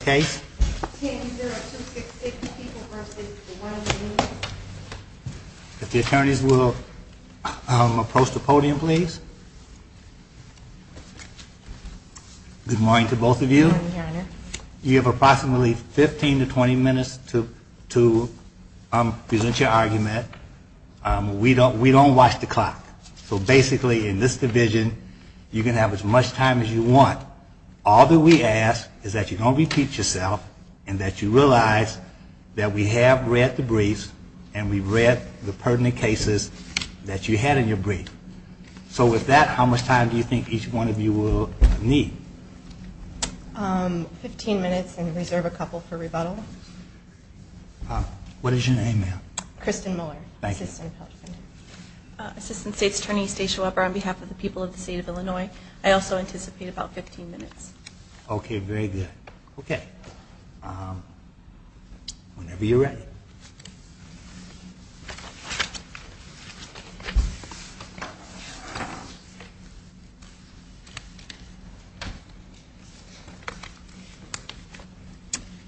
case. If the attorneys will approach the podium, please. Good morning to both of you. You have approximately 15 to 20 minutes to present your argument. We don't watch the clock. So basically in this division, you can have as much time as you want. All that we ask is that you don't repeat yourself and that you realize that we have read the briefs and we've read the pertinent cases that you had in your brief. So with that, how much time do you think each one of you will need? Fifteen minutes and reserve a couple for rebuttal. What is your name, ma'am? Kristin Mueller, Assistant Attorney. Assistant State's Attorney Stacia Weber on behalf of the people of the state of Illinois. I also anticipate about 15 minutes. Okay, very good. Okay. Whenever you're ready.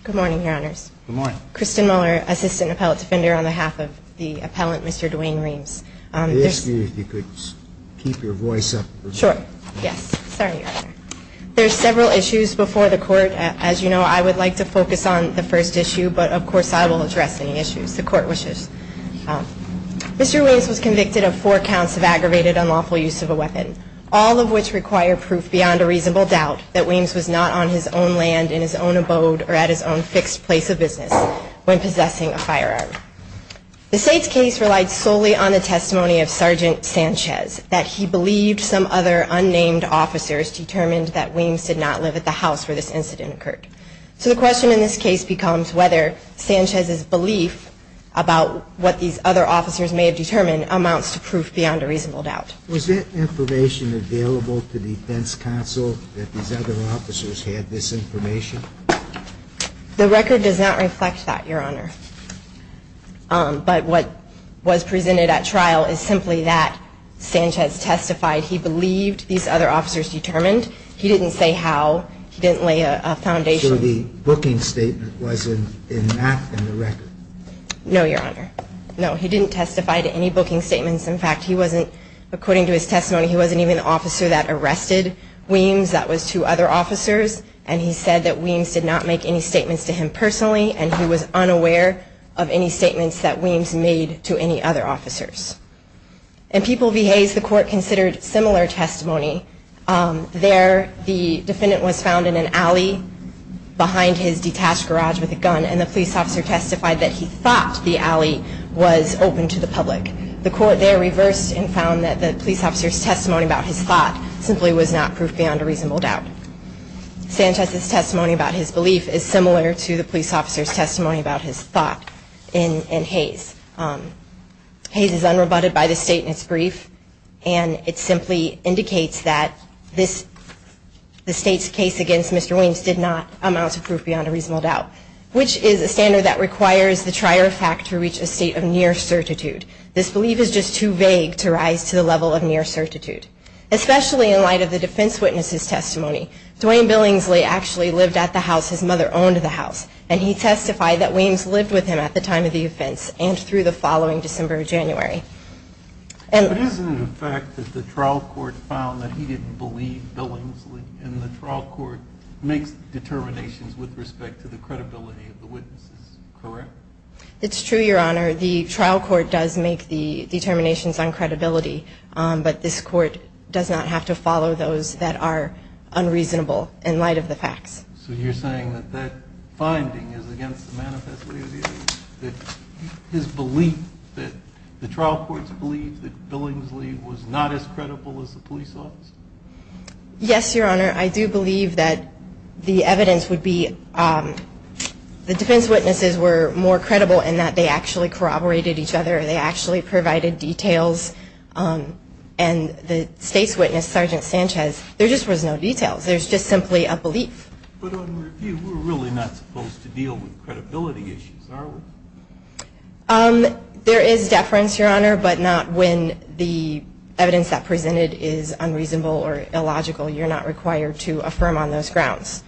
Good morning, Your Honors. Good morning. Kristin Mueller, Assistant Appellate Defender on behalf of the people of the state of Illinois. I have several issues before the court. As you know, I would like to focus on the first issue, but of course I will address any issues the court wishes. Mr. Weems was convicted of four counts of aggravated unlawful use of a weapon, all of which require proof beyond a reasonable doubt that Weems was not on his own land in his own abode or at his own fixed place of business when possessing a firearm. The state's case relied solely on the testimony of Sergeant Sanchez, that he believed some other unnamed officers determined that Weems did not possess a firearm. That, and that he did not live at the house where this incident occurred. So the question in this case becomes whether Sanchez's belief about what these other officers may have determined amounts to proof beyond a reasonable doubt. Was that information available to defense counsel that these other officers had this information? The record does not reflect that, Your Honor. But what was presented at trial is simply that Sanchez testified he believed these other officers determined. He didn't say how the weapon might have been used. So the bookings statement was not in the record? No, Your Honor. No, he didn't testify to any booking statements. In fact, according to his testimony, he wasn't even an officer that arrested Weems, that was two other officers. He said that Weems did not make any statements to him personally, and he was unaware of any statements that Weems made to any other officers. In People v. Hayes, the court considered similar testimony. There, the defendant was found in an alley behind his detached garage with a gun, and the police officer testified that he thought the alley was open to the public. The court there reversed and found that the police officer's testimony about his thought simply was not proof beyond a reasonable doubt. Sanchez's testimony about his belief is similar to the police officer's testimony about his thought in Hayes. Hayes is unrebutted by this statement's brief, and it simply indicates that the state's case against Mr. Weems did not amount to proof beyond a reasonable doubt, which is a standard that requires the trier of fact to reach a state of near certitude. This belief is just too vague to rise to the level of near certitude. Especially in light of the defense witness's testimony, Dwayne Billingsley actually lived at the house his mother owned the house, and he testified that Weems lived with him at the time of the offense and through the following December or January. But isn't it a fact that the trial court found that he didn't believe Billingsley, and the trial court makes determinations with respect to the credibility of the witnesses, correct? It's true, Your Honor. The trial court does make the determinations on credibility, but this court does not have to follow those that are unreasonable in light of the facts. So you're saying that that finding is against the manifesto of the evidence, that his belief, that the trial court's belief that Billingsley was not as credible as the police officer? Yes, Your Honor. I do believe that the evidence would be, the defense witnesses were more credible in that they actually corroborated each other, they actually provided details, and the state's witness, Sergeant Sanchez, there just was no details. There's just simply a belief. But on review, we're really not supposed to deal with credibility issues, are we? There is deference, Your Honor, but not when the evidence that presented is unreasonable or illogical. You're not required to affirm on those grounds.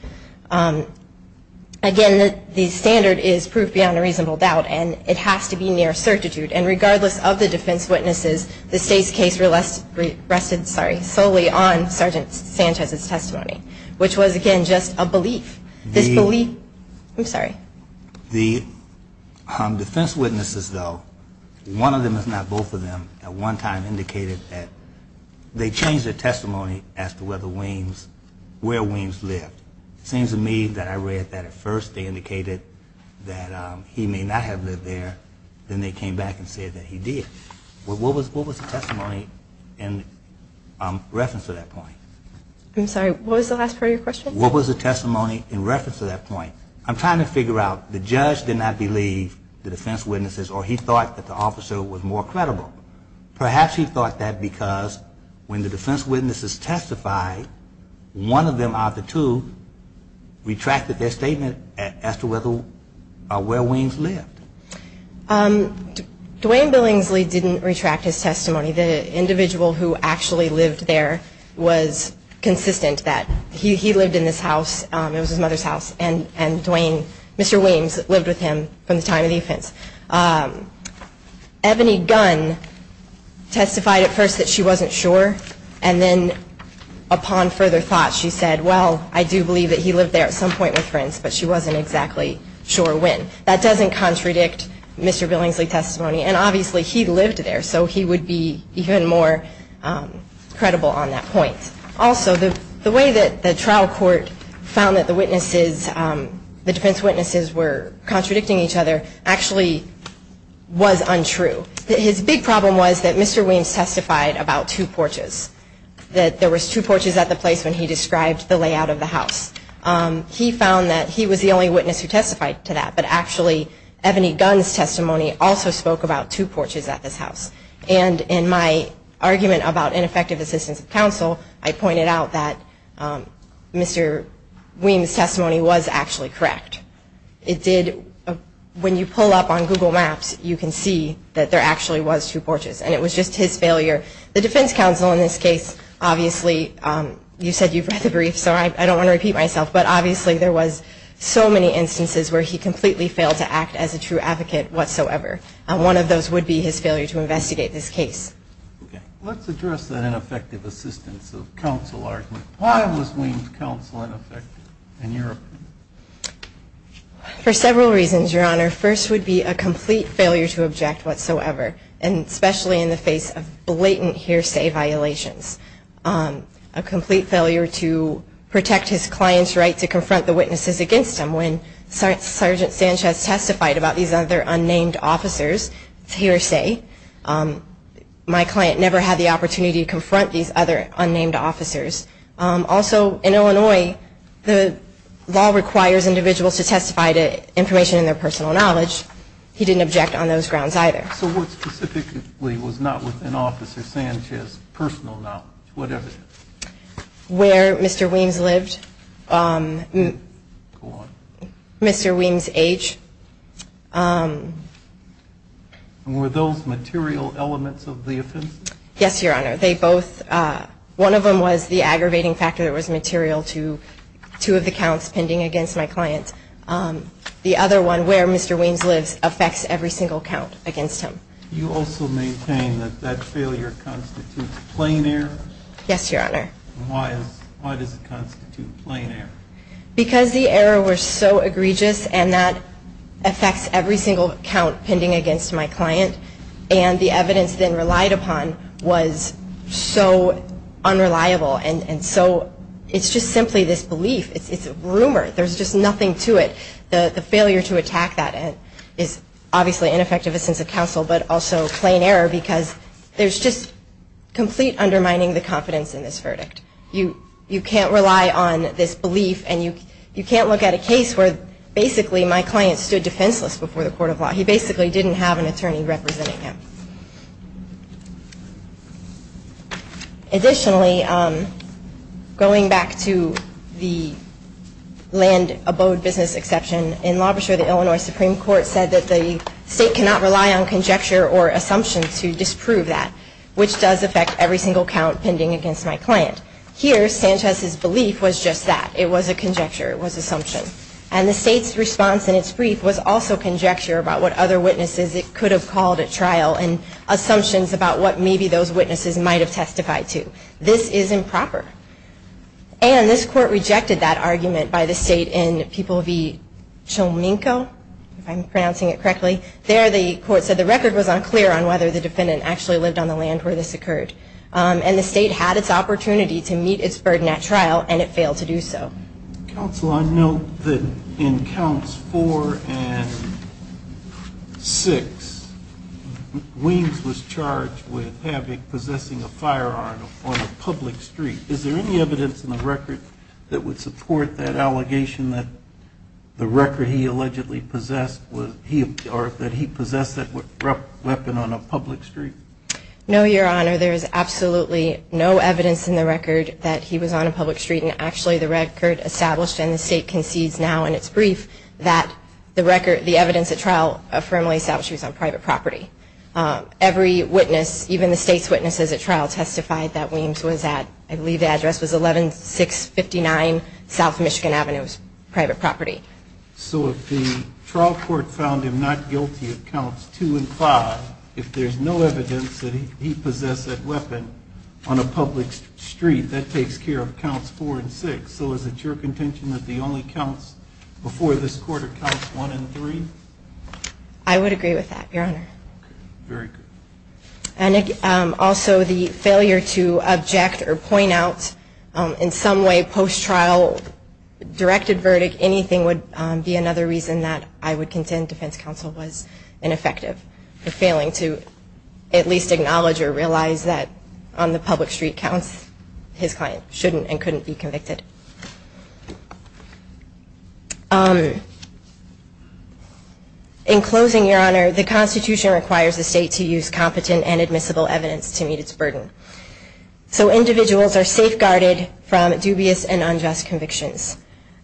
Again, the standard is proof beyond a reasonable doubt, and it has to be near certitude. And regardless of the defense witnesses, the state's case rested solely on Sergeant Sanchez's testimony, which was, again, just a belief. This belief, I'm sorry. The defense witnesses, though, one of them, if not both of them, at one time indicated that they changed their testimony as to where Williams lived. It seems to me that I read that at first they indicated that he may not have lived there, then they came back and said that he did. What was the testimony in reference to that point? I'm sorry, what was the last part of your question? What was the testimony in reference to that point? I'm trying to figure out, the judge did not believe the defense witnesses, or he thought that the officer was more credible. Perhaps he thought that because when the defense witnesses testified, one of them out of the two retracted their statement as to where Williams lived. Dwayne Billingsley didn't retract his testimony. The individual who actually lived there was consistent that he lived in this house. It was his mother's house. And Dwayne, Mr. Williams, lived with him from the time of the offense. Ebony Gunn testified at first that she wasn't sure, and then upon further thought, she said, well, I do believe that he lived there at some point with friends, but she wasn't exactly sure when. That doesn't contradict Mr. Billingsley's testimony, and obviously he lived there, so he would be even more credible on that point. Also, the way that the trial court found that the witnesses, the defense witnesses, were contradicting each other actually was untrue. His big problem was that Mr. Williams testified about two porches, that there was two porches at the place when he described the layout of the house. He found that he was the only witness who testified to that, but actually Ebony Gunn's testimony also spoke about two porches at this house. And in my argument about ineffective assistance of counsel, I pointed out that Mr. Williams' testimony was actually correct. It did, when you pull up on Google Maps, you can see that there actually was two porches, and it was just his failure. The defense counsel in this case, obviously, you said you've read the brief, so I don't want to repeat myself, but obviously there was so many instances where he completely failed to act as a true advocate whatsoever, and one of those would be his failure to investigate this case. Let's address that ineffective assistance of counsel argument. Why was Williams' counsel ineffective in your opinion? For several reasons, Your Honor. First would be a complete failure to object whatsoever, and especially in the face of blatant hearsay violations. A complete failure to protect his client's right to confront the witnesses against him. When Sergeant Sanchez testified about these other unnamed officers, it's hearsay. My client never had the opportunity to confront these other unnamed officers. Also, in Illinois, the law requires individuals to testify to information in their personal knowledge. He didn't object on those grounds, either. So what specifically was not within Officer Sanchez's personal knowledge, whatever it is? Where Mr. Weems lived. Mr. Weems' age. Were those material elements of the offense? Yes, Your Honor. They both, one of them was the aggravating factor that was material to two of the counts pending against my client. The other one, where Mr. Weems lives, affects every single count against him. You also maintain that that failure constitutes plain error? Yes, Your Honor. Why does it constitute plain error? Because the error was so egregious, and that affects every single count pending against my client. And the evidence then relied upon was so unreliable. And so it's just simply this belief. It's a rumor. There's just nothing to it. The failure to attack that is obviously ineffective in the sense of counsel, but also plain error, because there's just complete undermining the confidence in this verdict. You can't rely on this belief, and you can't look at a case where basically my client stood defenseless before the court of law. He basically didn't have an attorney representing him. Additionally, going back to the land abode business exception, in LaBashore, the Illinois Supreme Court said that the state cannot rely on conjecture or assumption to disprove that, which does affect every single count pending against my client. Here, Sanchez's belief was just that. It was a conjecture. It was assumption. And the state's response in its brief was also conjecture about what happened. It was assumption about what other witnesses it could have called at trial, and assumptions about what maybe those witnesses might have testified to. This is improper. And this court rejected that argument by the state in People v. Chominko, if I'm pronouncing it correctly. There, the court said the record was unclear on whether the defendant actually lived on the land where this occurred. And the state had its opportunity to meet its burden at trial, and it failed to do so. Counsel, I note that in counts four and six, Weems was charged with having, possessing a firearm on a public street. Is there any evidence in the record that would support that allegation that the record he allegedly possessed, or that he possessed that weapon on a public street? No, Your Honor. There is absolutely no evidence in the record that he was on a public street. And actually, the record established, and the state concedes now in its brief, that the record, the evidence at trial affirmably establishes he was on private property. Every witness, even the state's witnesses at trial testified that Weems was at, I believe the address was 11659 South Michigan Avenue. It was private property. So if the trial court found him not guilty of counts two and five, if there's no evidence that he possessed that weapon on a public street, that takes care of counts four and five. And if the trial court found Weems guilty of counts four and six, so is it your contention that the only counts before this court are counts one and three? I would agree with that, Your Honor. And also the failure to object or point out in some way post-trial directed verdict, anything would be another reason that I would contend defense counsel was ineffective for failing to at least acknowledge or realize that on the public street counts, his client shouldn't and couldn't be convicted. In closing, Your Honor, the Constitution requires the state to use competent and admissible evidence to meet its burden. So individuals are safeguarded from dubious and unjust convictions.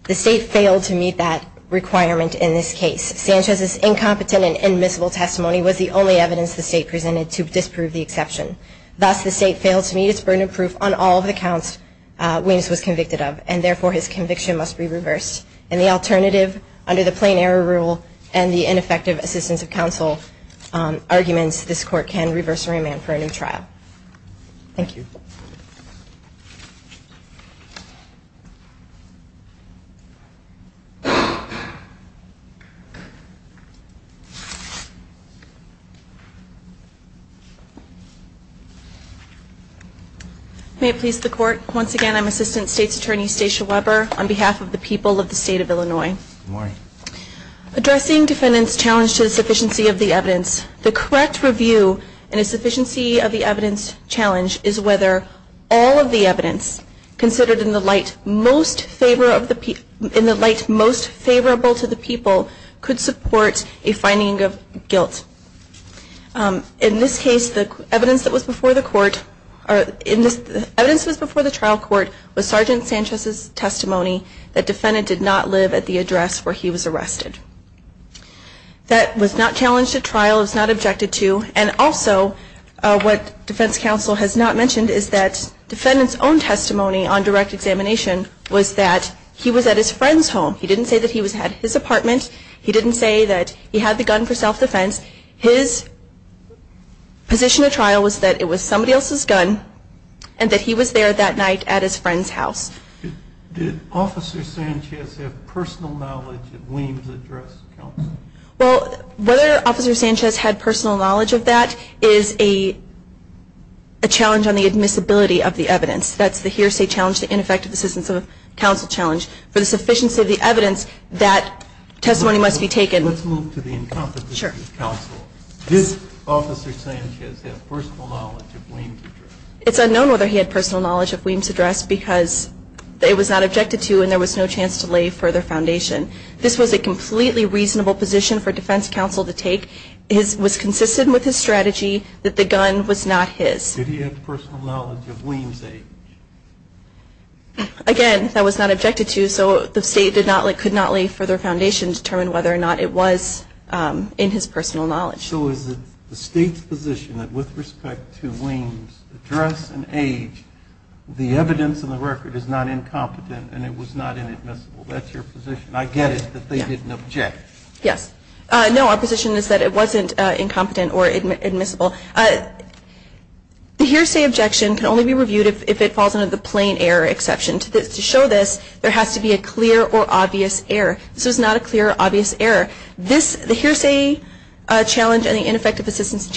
The state failed to meet that requirement in this case. Sanchez's incompetent and admissible testimony was the only evidence the state presented to disprove the exception. Thus, the state failed to meet its burden of proof on all of the counts Weems was convicted of, and therefore his conviction must be reversed. And the alternative, under the plain error rule and the ineffective assistance of counsel arguments, this court can reverse remand for a new trial. Thank you. May it please the court, once again, I'm Assistant State's Attorney Stacia Weber on behalf of the people of the state of Illinois. Good morning. Addressing defendant's challenge to the sufficiency of the evidence, the correct review in a sufficiency of the evidence challenge is whether all of the evidence considered in the light most favorable to the people could support a finding of guilt. In this case, the evidence that was before the trial court was Sgt. Sanchez's testimony that defendant did not live at the address where he was arrested. That was not challenged at trial, was not objected to. And also, what defense counsel has not mentioned is that defendant's own testimony on direct examination was that he was at his friend's home. He didn't say that he had his apartment, he didn't say that he had the gun for self-defense. His position at trial was that it was somebody else's gun, and that he was there that night at his friend's house. Did Officer Sanchez have personal knowledge of Weems' address to counsel? Well, whether Officer Sanchez had personal knowledge of that is a challenge on the admissibility of the evidence. That's the hearsay challenge, the ineffective assistance of counsel challenge. For the sufficiency of the evidence, that testimony must be taken. Let's move to the incompetence of counsel. Did Officer Sanchez have personal knowledge of Weems' address? It's unknown whether he had personal knowledge of Weems' address because it was not objected to and there was no chance to lay further foundation. This was a completely reasonable position for defense counsel to take. It was consistent with his strategy that the gun was not his. Did he have personal knowledge of Weems' age? Again, that was not objected to, so the State could not lay further foundation to determine whether or not it was in his personal knowledge. So is it the State's position that with respect to Weems' address and age, the evidence in the record is not incompetent and it was not inadmissible? That's your position. I get it that they didn't object. No, our position is that it wasn't incompetent or admissible. The hearsay objection can only be reviewed if it falls under the plain error exception. To show this, there has to be a clear or obvious error. This was not a clear or obvious error. The hearsay challenge and the ineffective assistance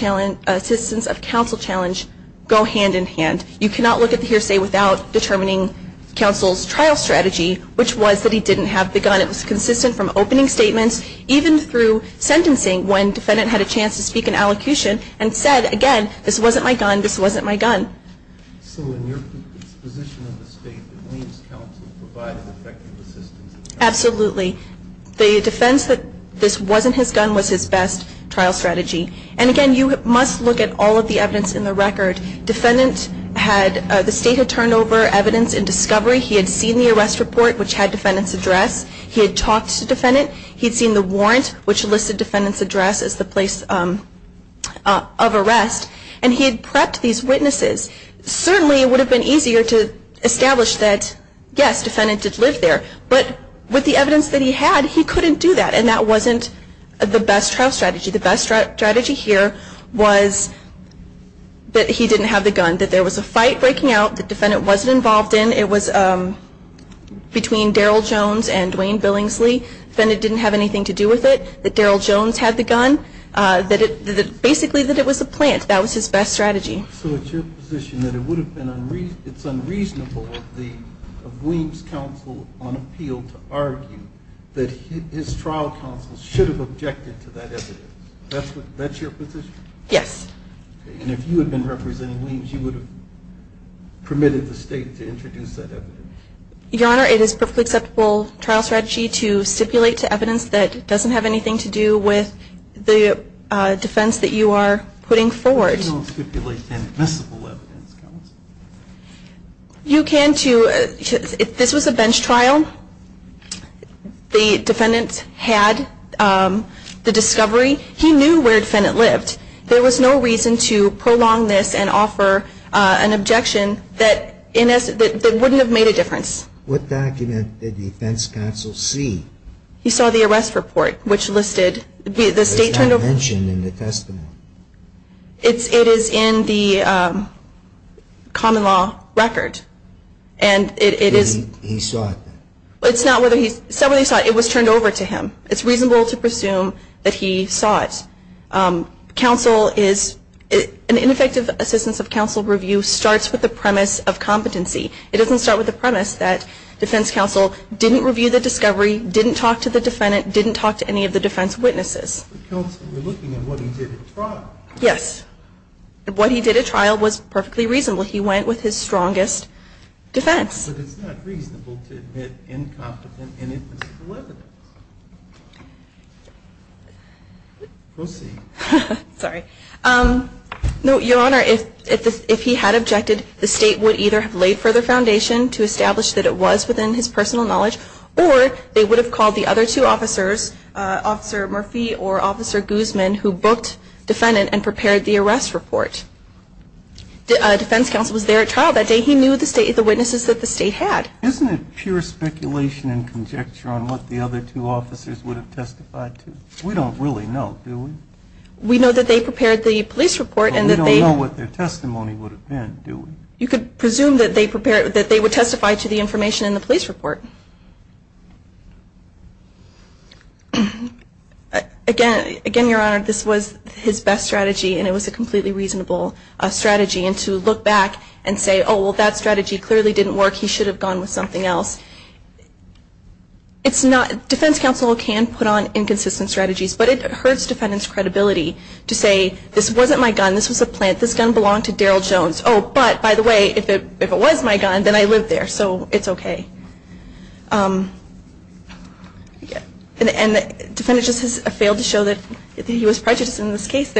of counsel challenge go hand in hand. You cannot look at the hearsay without determining counsel's trial strategy, which was that he didn't have the gun. It was consistent from opening statements, even through sentencing when defendant had a chance to speak in allocution and said, again, this wasn't my gun, this wasn't my gun. So in your position of the State, that Weems' counsel provided effective assistance? Absolutely. The defense that this wasn't his gun was his best trial strategy. And again, you must look at all of the evidence in the record. The State had turned over evidence in discovery. He had seen the arrest report, which had defendant's address. He had talked to defendant. He had seen the warrant, which listed defendant's address as the place of arrest. And he had prepped these witnesses. Certainly it would have been easier to establish that, yes, defendant did live there. But with the evidence that he had, he couldn't do that. And that wasn't the best trial strategy. The best strategy here was that he didn't have the gun, that there was a fight breaking out that defendant wasn't involved in. It was between Daryl Jones and Dwayne Billingsley. Defendant didn't have anything to do with it. So it's your position that it's unreasonable of Weems' counsel on appeal to argue that his trial counsel should have objected to that evidence? That's your position? Yes. And if you had been representing Weems, you would have permitted the State to introduce that evidence? Your Honor, it is perfectly acceptable trial strategy to stipulate to evidence that doesn't have anything to do with the defense that you are putting forward. You don't stipulate inadmissible evidence, counsel? You can to, if this was a bench trial, the defendant had the discovery. He knew where defendant lived. He knew where he lived. There was no reason to prolong this and offer an objection that wouldn't have made a difference. What document did defense counsel see? He saw the arrest report, which listed the State turned over. Was that mentioned in the testimony? It is in the common law record. He saw it? It was turned over to him. It's reasonable to presume that he saw it. An ineffective assistance of counsel review starts with the premise of competency. It doesn't start with the premise that defense counsel didn't review the discovery, didn't talk to the defendant, didn't talk to any of the defense witnesses. Yes. What he did at trial was perfectly reasonable. He went with his strongest defense. But it's not reasonable to admit incompetent inadmissible evidence. Proceed. Your Honor, if he had objected, the State would either have laid further foundation to establish that it was within his personal knowledge, or they would have called the other two officers, Officer Murphy or Officer Guzman, who booked defendant and prepared the arrest report. Defense counsel was there at trial that day. He knew the witnesses that the State had. Isn't it pure speculation and conjecture on what the other two officers would have testified to? We don't really know, do we? We know that they prepared the police report. We don't know what their testimony would have been, do we? You could presume that they would testify to the information in the police report. Again, Your Honor, this was his best strategy, and it was a completely reasonable strategy. And to look back and say, oh, well, that strategy clearly didn't work. He should have gone with something else. Defense counsel can put on inconsistent strategies, but it hurts defendant's credibility to say, this wasn't my gun, this was a plant, this gun belonged to Daryl Jones. Oh, but, by the way, if it was my gun, then I lived there, so it's okay. And defendants just have failed to show that he was prejudiced in this case.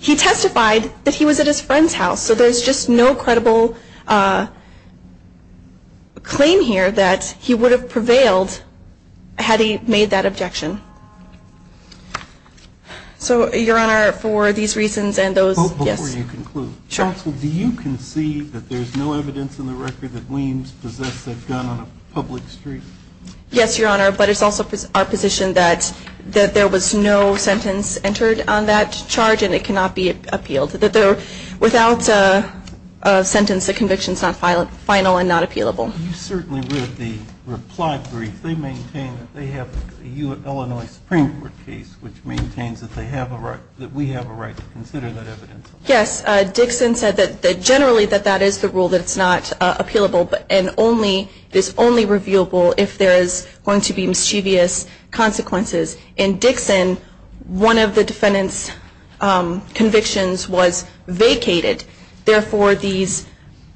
He testified that he was at his friend's house, so there's just no credible claim here that he would have prevailed had he made that objection. So, Your Honor, for these reasons and those, yes. Before you conclude, counsel, do you concede that there's no evidence in the record that Weems possessed that gun on a public street? Yes, Your Honor, but it's also our position that there was no sentence entered on that charge, and it cannot be appealed. Without a sentence, the conviction is not final and not appealable. You certainly read the reply brief. They maintain that they have a U.S. Supreme Court case, which maintains that we have a right to consider that evidence. Yes, Dixon said generally that that is the rule, that it's not appealable, and it's only revealable if there is going to be mischievous consequences. In Dixon, one of the defendant's convictions was vacated. Therefore, these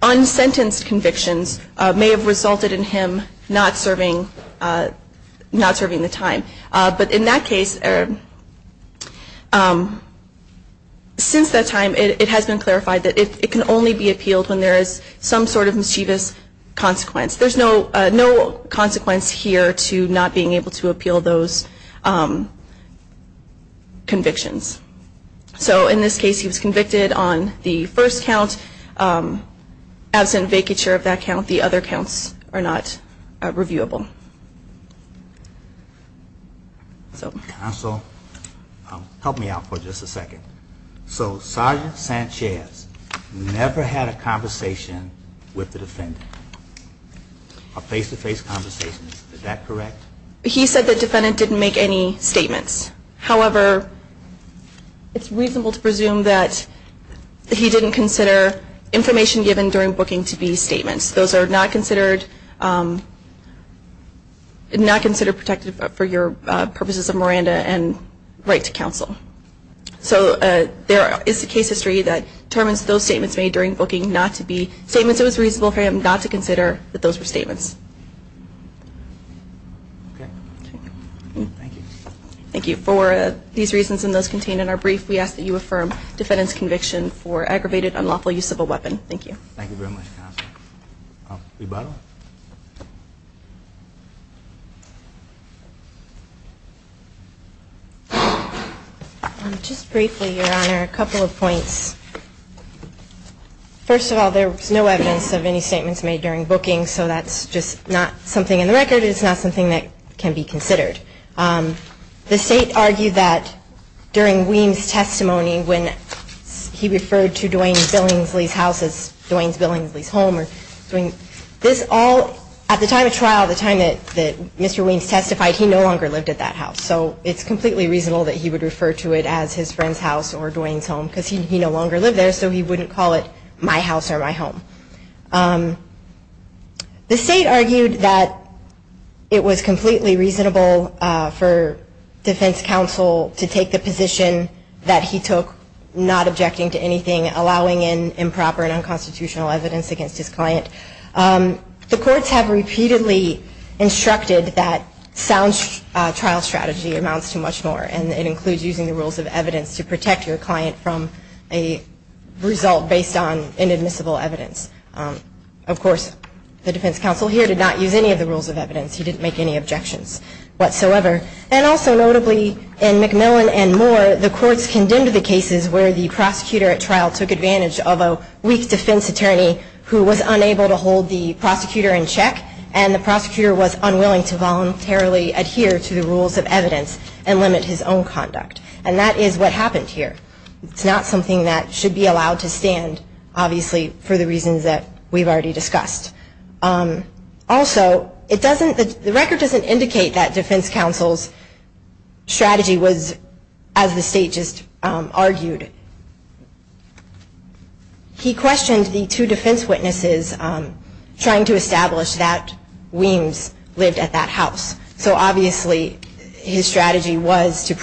unsentenced convictions may have resulted in him not serving the time. But in that case, since that time, it has been clarified that it can only be appealed when there is some sort of mischievous consequence. There's no consequence here to not being able to appeal those convictions. So in this case, he was convicted on the first count. Absent vacature of that count, the other counts are not reviewable. So Sergeant Sanchez never had a conversation with the defendant. A face-to-face conversation. Is that correct? He said the defendant didn't make any statements. However, it's reasonable to presume that he didn't consider information given during booking to be statements. Those are not considered protected for your purposes of Miranda and right to counsel. So there is a case history that determines those statements made during booking not to be statements. It was reasonable for him not to consider that those were statements. Thank you. For these reasons and those contained in our brief, we ask that you affirm defendant's conviction for aggravated unlawful use of a weapon. Thank you. Just briefly, Your Honor, a couple of points. First of all, there was no evidence of any statements made during booking, so that's just not something in the record. It's not something that can be considered. The State argued that during Weems' testimony when he referred to Dwayne Billingsley's house as Dwayne Billingsley's home, this all, at the time of trial, the time that Mr. Weems testified, he no longer lived at that house. So it's completely reasonable that he would refer to it as his friend's house or Dwayne's home, because he no longer lived there, so he wouldn't call it my house or my home. The State argued that it was completely reasonable for defense counsel to take the position that he took, not objecting to anything, allowing in improper and unconstitutional evidence against his client. The courts have repeatedly instructed that sound trial strategy amounts to much more, and it includes using the rules of evidence to protect your client from a result based on inadmissible evidence. Of course, the defense counsel here did not use any of the rules of evidence. He didn't make any objections whatsoever. And also, notably, in McMillan and more, the courts condemned the cases where the prosecutor at trial took advantage of a weak defense attorney who was unable to hold the prosecutor in check, and the prosecutor was unwilling to voluntarily adhere to the rules of evidence and limit his own conduct. And that is what happened here. It's not something that should be allowed to stand, obviously, for the reasons that we've already discussed. Also, the record doesn't indicate that defense counsel's strategy was, as the State just argued. He questioned the two defense witnesses trying to establish that Weems lived at that house. So obviously, his strategy was to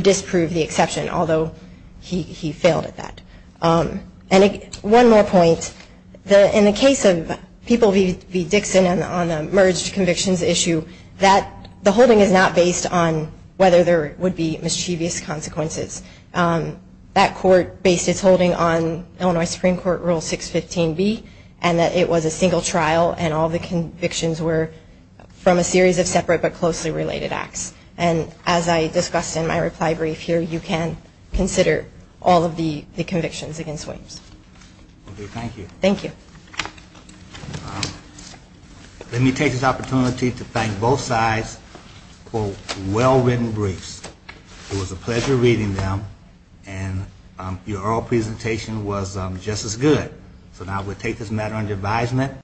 disprove the exception, although he failed at that. And one more point. In the case of People v. Dixon on the merged convictions issue, the holding is not based on whether there would be mischievous consequences. That court based its holding on Illinois Supreme Court Rule 615B, and that it was a single trial and all the convictions were from a series of separate but closely related acts. And as I discussed in my reply brief here, you can consider all of the convictions against Weems. Thank you. Let me take this opportunity to thank both sides for well-written briefs. It was a pleasure reading them, and your oral presentation was just as good. So now we'll take this matter under advisement.